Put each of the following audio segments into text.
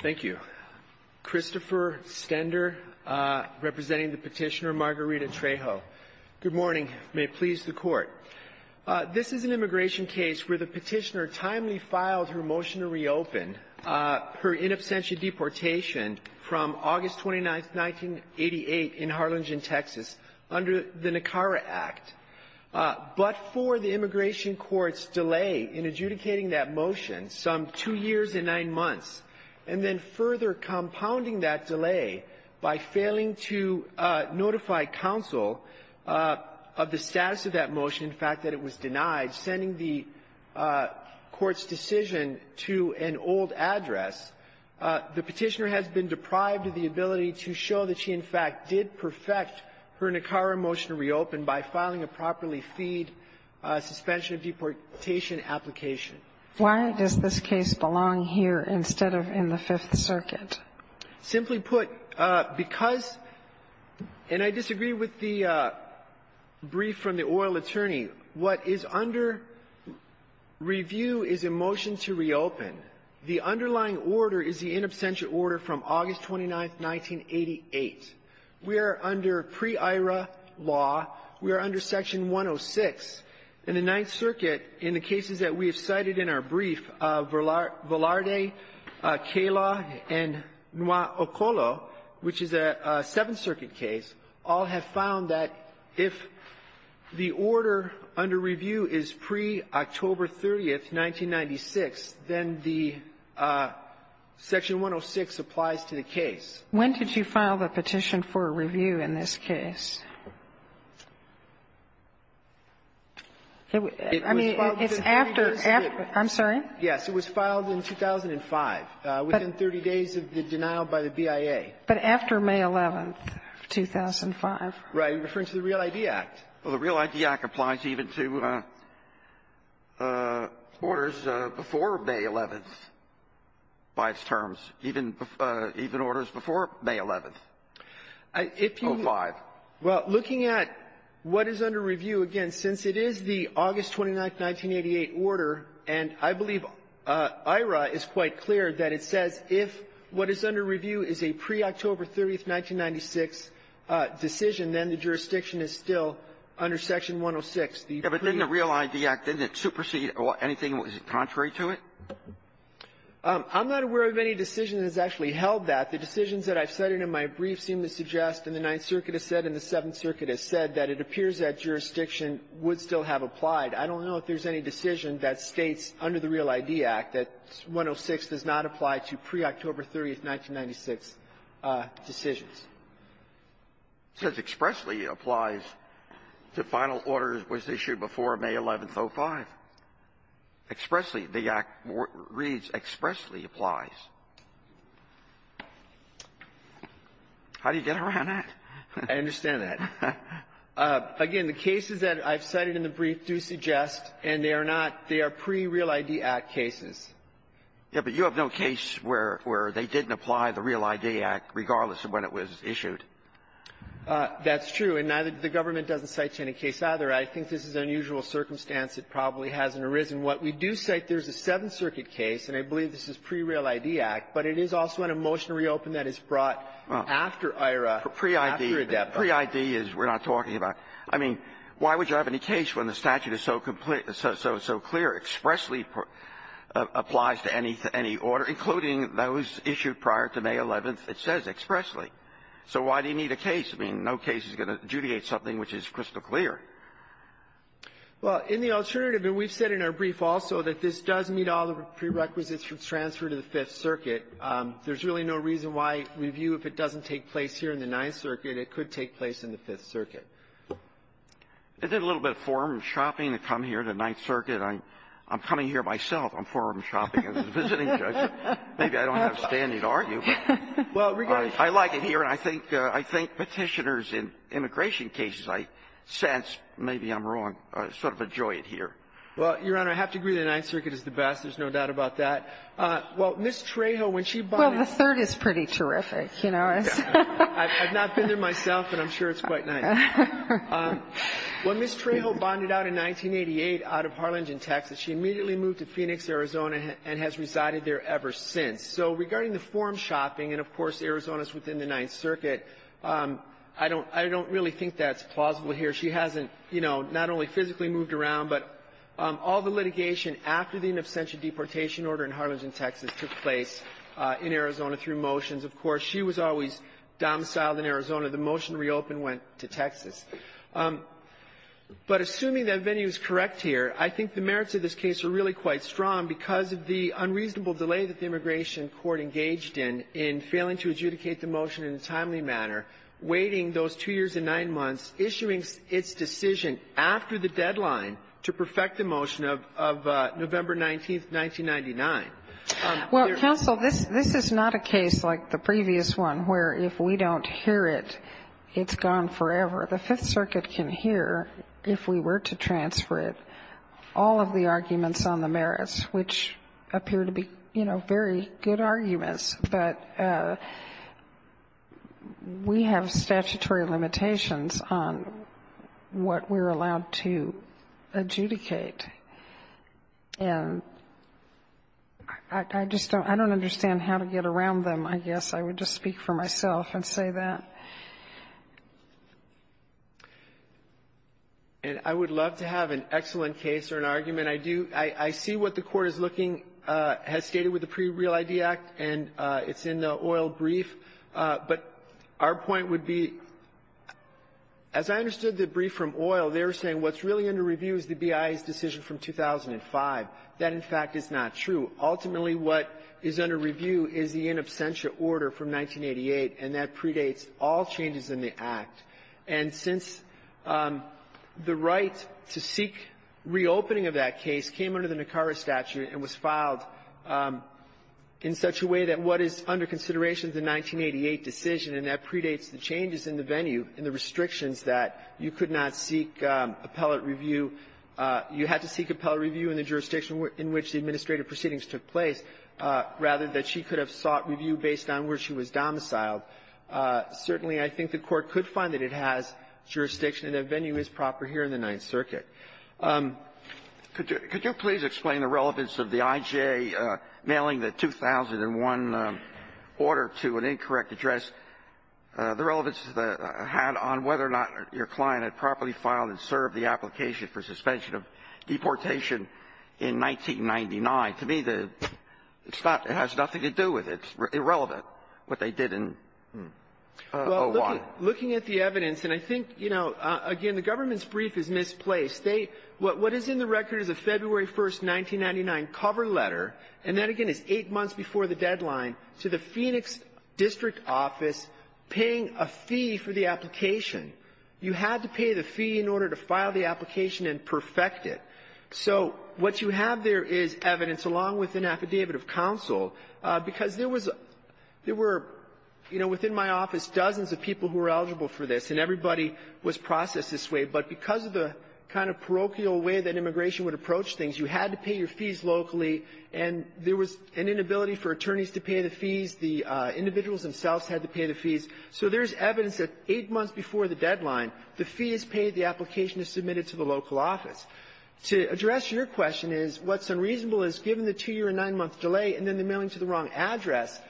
Thank you. Christopher Stender, representing the petitioner Margarita Trejo. Good morning. May it please the Court. This is an immigration case where the petitioner timely filed her motion to reopen her in absentia deportation from August 29, 1988 in Harlingen, Texas, under the Nicara Act. But for the immigration court's delay in adjudicating that motion, some two years and nine months, and then further compounding that delay by failing to notify counsel of the status of that motion, the fact that it was denied, sending the court's decision to an old address, the petitioner has been deprived of the ability to show that she, in fact, did perfect her Nicara motion to reopen by filing a properly feed suspension of deportation application. Why does this case belong here instead of in the Fifth Circuit? Simply put, because — and I disagree with the brief from the oil attorney. The underlying order is the in absentia order from August 29, 1988. We are under pre-IRA law. We are under Section 106. In the Ninth Circuit, in the cases that we have cited in our brief, Velarde, Cayla, and Noir-Ocolo, which is a Seventh Circuit case, all have found that if the order under review is pre-October 30, 1996, then the Section 106 applies to the case. When did you file the petition for review in this case? I mean, it's after — I'm sorry? Yes. It was filed in 2005, within 30 days of the denial by the BIA. But after May 11, 2005. You're referring to the Real ID Act. Well, the Real ID Act applies even to orders before May 11th by its terms, even orders before May 11th, 2005. If you — well, looking at what is under review, again, since it is the August 29, 1988 order, and I believe IRA is quite clear that it says if what is under review is a pre-October 30, 1996 decision, then the jurisdiction is still under Section 106. Yeah. But didn't the Real ID Act, didn't it supersede anything? Was it contrary to it? I'm not aware of any decision that has actually held that. The decisions that I've cited in my brief seem to suggest, and the Ninth Circuit has said, and the Seventh Circuit has said, that it appears that jurisdiction would still have applied. I don't know if there's any decision that states under the Real ID Act that 106 does not apply to pre-October 30, 1996 decisions. It says expressly applies to final orders was issued before May 11th, 2005. Expressly the Act reads expressly applies. How do you get around that? I understand that. Again, the cases that I've cited in the brief do suggest, and they are not — they are pre-Real ID Act cases. Yeah, but you have no case where — where they didn't apply the Real ID Act regardless of when it was issued. That's true. And neither — the government doesn't cite you any case either. I think this is an unusual circumstance that probably hasn't arisen. What we do cite, there's a Seventh Circuit case, and I believe this is pre-Real ID Act, but it is also in a motion to reopen that is brought after IRA, after ADEPA. Pre-ID. Pre-ID is we're not talking about. I mean, why would you have any case when the statute is so complete — so clear, expressly applies to any — to any order, including those issued prior to May 11th? It says expressly. So why do you need a case? I mean, no case is going to adjudicate something which is crystal clear. Well, in the alternative, and we've said in our brief also that this does meet all of the prerequisites for transfer to the Fifth Circuit, there's really no reason why we view if it doesn't take place here in the Ninth Circuit, it could take place in the Fifth Circuit. Is it a little bit of forum shopping to come here to the Ninth Circuit? I'm coming here myself. I'm forum shopping as a visiting judge. Maybe I don't have a standing argument. Well, regardless — I like it here, and I think Petitioners in immigration cases, I sense, maybe I'm wrong, sort of enjoy it here. Well, Your Honor, I have to agree the Ninth Circuit is the best. There's no doubt about that. Well, Ms. Trejo, when she bought in — Well, the Third is pretty terrific, you know. I've not been there myself, and I'm sure it's quite nice. Well, Ms. Trejo bonded out in 1988 out of Harlingen, Texas. She immediately moved to Phoenix, Arizona, and has resided there ever since. So regarding the forum shopping, and of course, Arizona's within the Ninth Circuit, I don't really think that's plausible here. She hasn't, you know, not only physically moved around, but all the litigation after the in absentia deportation order in Harlingen, Texas, took place in Arizona through motions. Of course, she was always domiciled in Arizona. The motion reopened, went to Texas. But assuming that venue is correct here, I think the merits of this case are really quite strong because of the unreasonable delay that the immigration court engaged in, in failing to adjudicate the motion in a timely manner, waiting those two years and nine months, issuing its decision after the deadline to perfect the motion of November 19th, 1999. Well, counsel, this is not a case like the previous one where if we don't hear it, it's gone forever. The Fifth Circuit can hear, if we were to transfer it, all of the arguments on the merits, which appear to be, you know, very good arguments. But we have statutory limitations on what we're allowed to adjudicate. And I just don't understand how to get around them, I guess. I would just speak for myself and say that. And I would love to have an excellent case or an argument. I do. I see what the Court is looking at, as stated with the Pre-Real ID Act, and it's in the oil brief. But our point would be, as I understood the brief from oil, they were saying what's really under review is the BIA's decision from 2005. That, in fact, is not true. Ultimately, what is under review is the in absentia order from 1988, and that predates all changes in the Act. And since the right to seek reopening of that case came under the Nicara statute and was filed in such a way that what is under consideration is the 1988 decision, and that predates the changes in the venue and the restrictions that you could not seek appellate review, you had to seek appellate review in the jurisdiction in which the administrative proceedings took place, rather than she could have sought review based on where she was domiciled, certainly I think the Court could find that it has jurisdiction and that venue is proper here in the Ninth Circuit. Could you please explain the relevance of the IJ mailing the 2001 order to an incorrect address, the relevance that it had on whether or not your client had properly filed and served the application for suspension of deportation in 1999? To me, the stuff has nothing to do with it. It's irrelevant what they did in 01. Well, looking at the evidence, and I think, you know, again, the government's brief is misplaced. What is in the record is a February 1, 1999 cover letter, and that, again, is eight paying a fee for the application. You had to pay the fee in order to file the application and perfect it. So what you have there is evidence, along with an affidavit of counsel, because there was a — there were, you know, within my office, dozens of people who were eligible for this, and everybody was processed this way. But because of the kind of parochial way that immigration would approach things, you had to pay your fees locally, and there was an inability for attorneys to pay the fees. The individuals themselves had to pay the fees. So there's evidence that eight months before the deadline, the fee is paid, the application is submitted to the local office. To address your question is, what's unreasonable is, given the two-year and nine-month delay and then the mailing to the wrong address,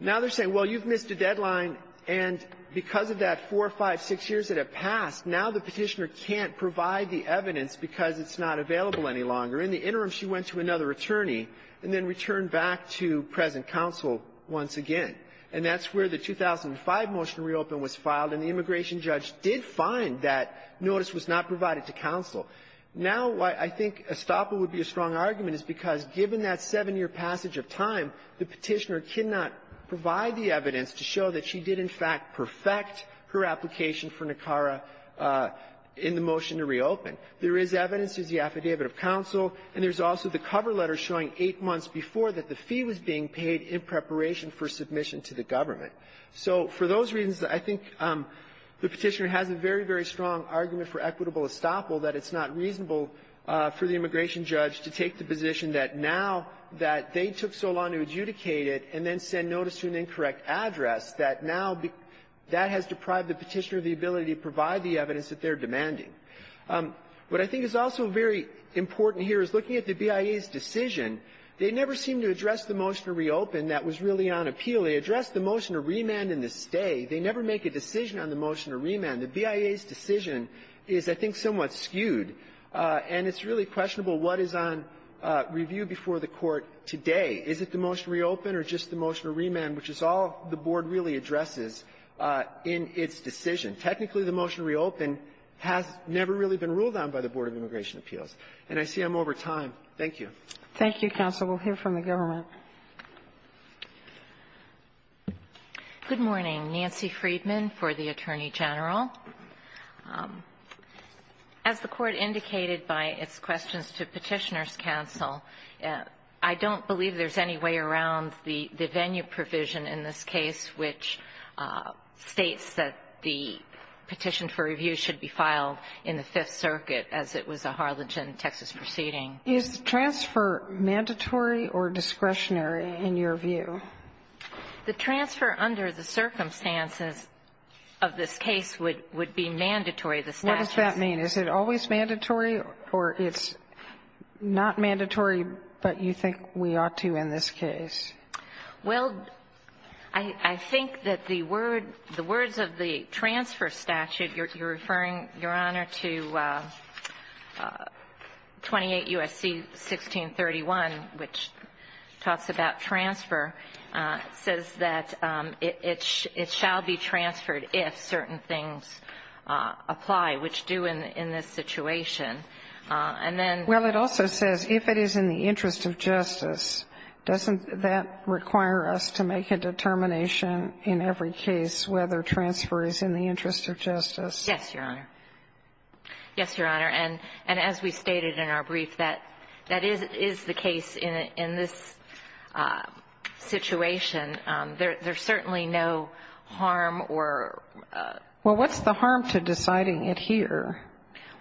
now they're saying, well, you've missed a deadline, and because of that four, five, six years that have passed, now the Petitioner can't provide the evidence because it's not available any longer. In the interim, she went to another attorney and then returned back to present counsel once again. And that's where the 2005 motion to reopen was filed, and the immigration judge did find that notice was not provided to counsel. Now, I think Estoppa would be a strong argument, is because given that seven-year passage of time, the Petitioner cannot provide the evidence to show that she did, in fact, perfect her application for NACARA in the motion to reopen. There is evidence. There's the affidavit of counsel. And there's also the cover letter showing eight months before that the fee was being paid in preparation for submission to the government. So for those reasons, I think the Petitioner has a very, very strong argument for equitable estoppel, that it's not reasonable for the immigration judge to take the position that now that they took so long to adjudicate it and then send notice to an incorrect address, that now that has deprived the Petitioner of the ability to provide the evidence that they're demanding. What I think is also very important here is, looking at the BIA's decision, they never seem to address the motion to reopen that was really on appeal. They addressed the motion to remand in the stay. They never make a decision on the motion to remand. The BIA's decision is, I think, somewhat skewed, and it's really questionable what is on review before the Court today. Is it the motion to reopen or just the motion to remand, which is all the Board really addresses in its decision? Technically, the motion to reopen has never really been ruled on by the Board of Immigration Appeals. And I see I'm over time. Thank you. Thank you, counsel. We'll hear from the government. Good morning. Nancy Friedman for the Attorney General. As the Court indicated by its questions to Petitioner's counsel, I don't believe there's any way around the venue provision in this case, which states that the petition for review should be filed in the Fifth Circuit as it was a Harlingen, Texas, proceeding. Is the transfer mandatory or discretionary in your view? The transfer under the circumstances of this case would be mandatory. What does that mean? Is it always mandatory or it's not mandatory, but you think we ought to in this case? Well, I think that the word, the words of the transfer statute, you're referring, Your Honor, to 28 U.S.C. 1631, which talks about transfer, says that it shall be transferred if certain things apply, which do in this situation. And then ---- Well, it also says if it is in the interest of justice. Doesn't that require us to make a determination in every case whether transfer is in the interest of justice? Yes, Your Honor. Yes, Your Honor. And as we stated in our brief, that is the case in this situation. There's certainly no harm or ---- Well, what's the harm to deciding it here?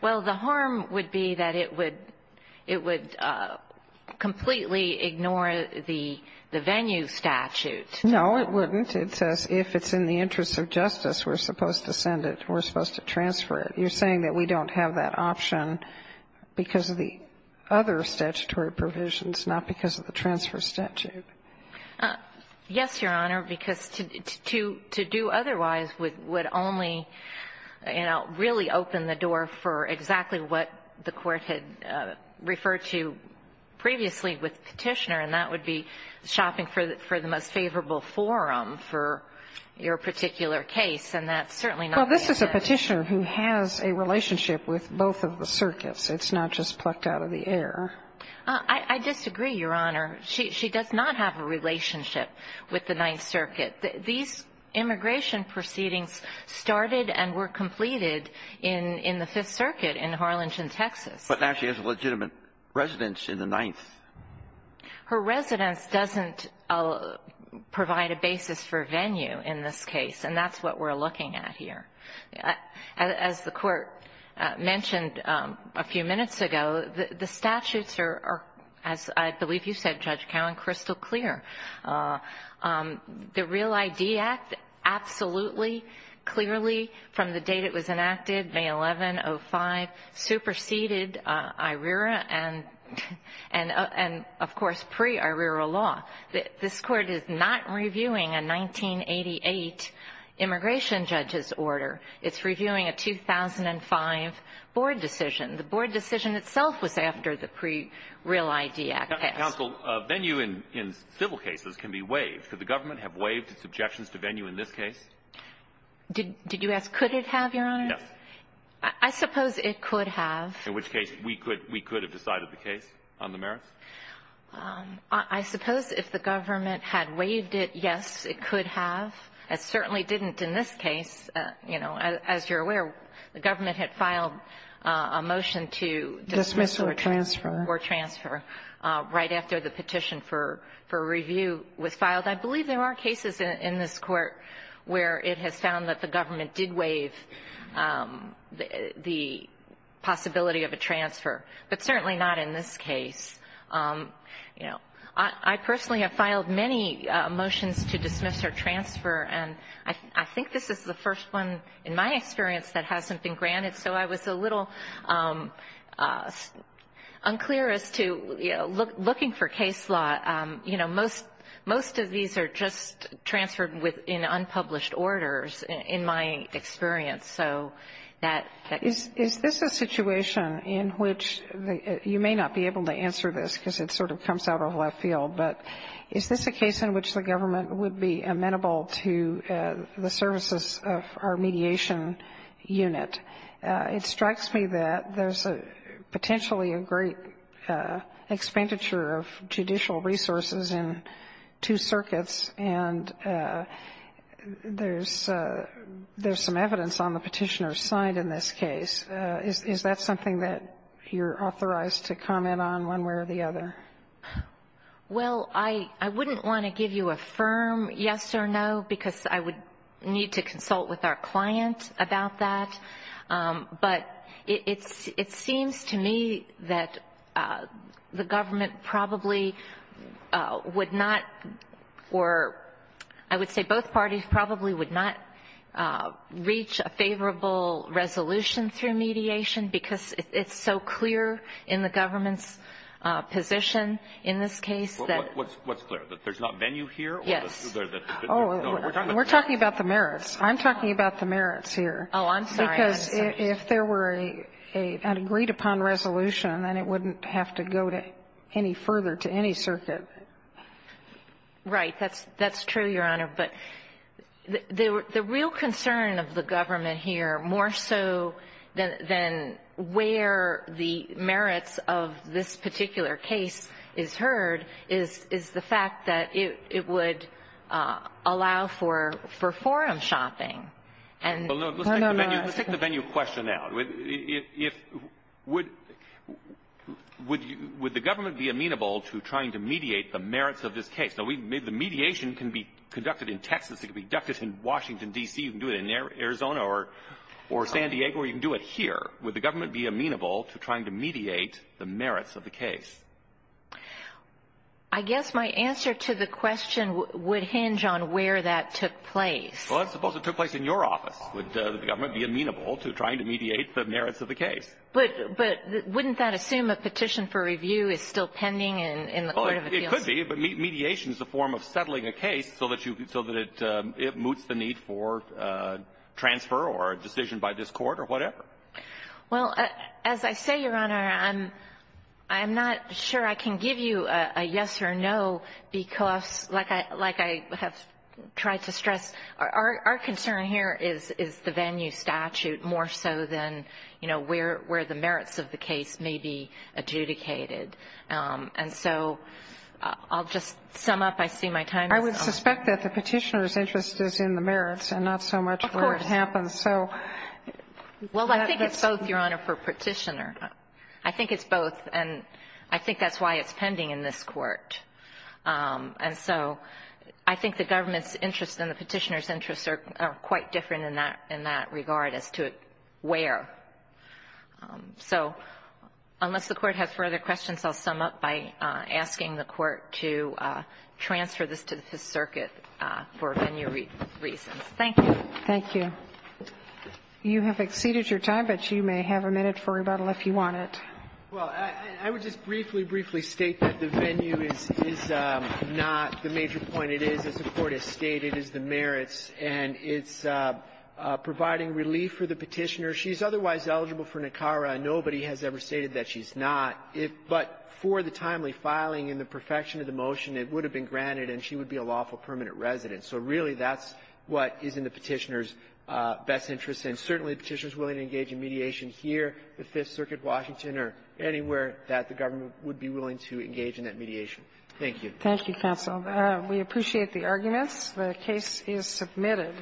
Well, the harm would be that it would completely ignore the venue statute. No, it wouldn't. It says if it's in the interest of justice, we're supposed to send it, we're supposed to transfer it. You're saying that we don't have that option because of the other statutory provisions, not because of the transfer statute. Yes, Your Honor, because to do otherwise would only, you know, really open the door for exactly what the Court had referred to previously with Petitioner, and that would be shopping for the most favorable forum for your particular case. And that's certainly not the case. Well, this is a Petitioner who has a relationship with both of the circuits. It's not just plucked out of the air. I disagree, Your Honor. She does not have a relationship with the Ninth Circuit. These immigration proceedings started and were completed in the Fifth Circuit in Harlingen, Texas. But now she has a legitimate residence in the Ninth. Her residence doesn't provide a basis for venue in this case, and that's what we're looking at here. As the Court mentioned a few minutes ago, the statutes are, as I believe you said, Judge Cowan, crystal clear. The REAL ID Act absolutely, clearly, from the date it was enacted, May 11, 05, superseded IRERA and, of course, pre-IRERA law. This Court is not reviewing a 1988 immigration judge's order. It's reviewing a 2005 board decision. The board decision itself was after the pre-REAL ID Act passed. Counsel, venue in civil cases can be waived. Could the government have waived its objections to venue in this case? Did you ask, could it have, Your Honor? Yes. I suppose it could have. In which case, we could have decided the case on the merits? I suppose if the government had waived it, yes, it could have. It certainly didn't in this case. You know, as you're aware, the government had filed a motion to dismiss or transfer right after the petition for review was filed. I believe there are cases in this Court where it has found that the government did waive the possibility of a transfer, but certainly not in this case. You know, I personally have filed many motions to dismiss or transfer, and I think this is the first one in my experience that hasn't been granted, so I was a little unclear as to, you know, looking for case law. You know, most of these are just transferred in unpublished orders, in my experience. Is this a situation in which you may not be able to answer this because it sort of comes out of left field, but is this a case in which the government would be amenable to the services of our mediation unit? It strikes me that there's potentially a great expenditure of judicial resources in two circuits, and there's some evidence on the Petitioner's side in this case. Is that something that you're authorized to comment on one way or the other? Well, I wouldn't want to give you a firm yes or no because I would need to consult with our client about that, but it seems to me that the government probably would not, or I would say both parties probably would not, What's clear, that there's not venue here? Yes. We're talking about the merits. I'm talking about the merits here. Oh, I'm sorry. Because if there were an agreed-upon resolution, then it wouldn't have to go to any further, to any circuit. Right. That's true, Your Honor. But the real concern of the government here, more so than where the merits of this particular case is heard, is the fact that it would allow for forum shopping. Well, let's take the venue question out. Would the government be amenable to trying to mediate the merits of this case? Now, the mediation can be conducted in Texas. It can be conducted in Washington, D.C. You can do it in Arizona or San Diego, or you can do it here. Would the government be amenable to trying to mediate the merits of the case? I guess my answer to the question would hinge on where that took place. Well, let's suppose it took place in your office. Would the government be amenable to trying to mediate the merits of the case? But wouldn't that assume a petition for review is still pending in the Court of Appeals? Well, it could be. But mediation is a form of settling a case so that it moots the need for transfer or a decision by this Court or whatever. Well, as I say, Your Honor, I'm not sure I can give you a yes or no because, like I have tried to stress, our concern here is the venue statute more so than, you know, where the merits of the case may be adjudicated. And so I'll just sum up. I see my time is up. I would suspect that the petitioner's interest is in the merits and not so much where the merits happen. So that's the question. Well, I think it's both, Your Honor, for petitioner. I think it's both. And I think that's why it's pending in this Court. And so I think the government's interest and the petitioner's interests are quite different in that regard as to where. So unless the Court has further questions, I'll sum up by asking the Court to transfer this to the Fifth Circuit for venue reasons. Thank you. Thank you. You have exceeded your time, but you may have a minute for rebuttal if you want it. Well, I would just briefly, briefly state that the venue is not the major point it is, as the Court has stated, is the merits. And it's providing relief for the petitioner. She's otherwise eligible for NACARA. Nobody has ever stated that she's not. But for the timely filing and the perfection of the motion, it would have been granted and she would be a lawful permanent resident. So really that's what is in the petitioner's best interest. And certainly the petitioner is willing to engage in mediation here, the Fifth Circuit, Washington, or anywhere that the government would be willing to engage in that mediation. Thank you. Thank you, counsel. We appreciate the arguments. The case is submitted.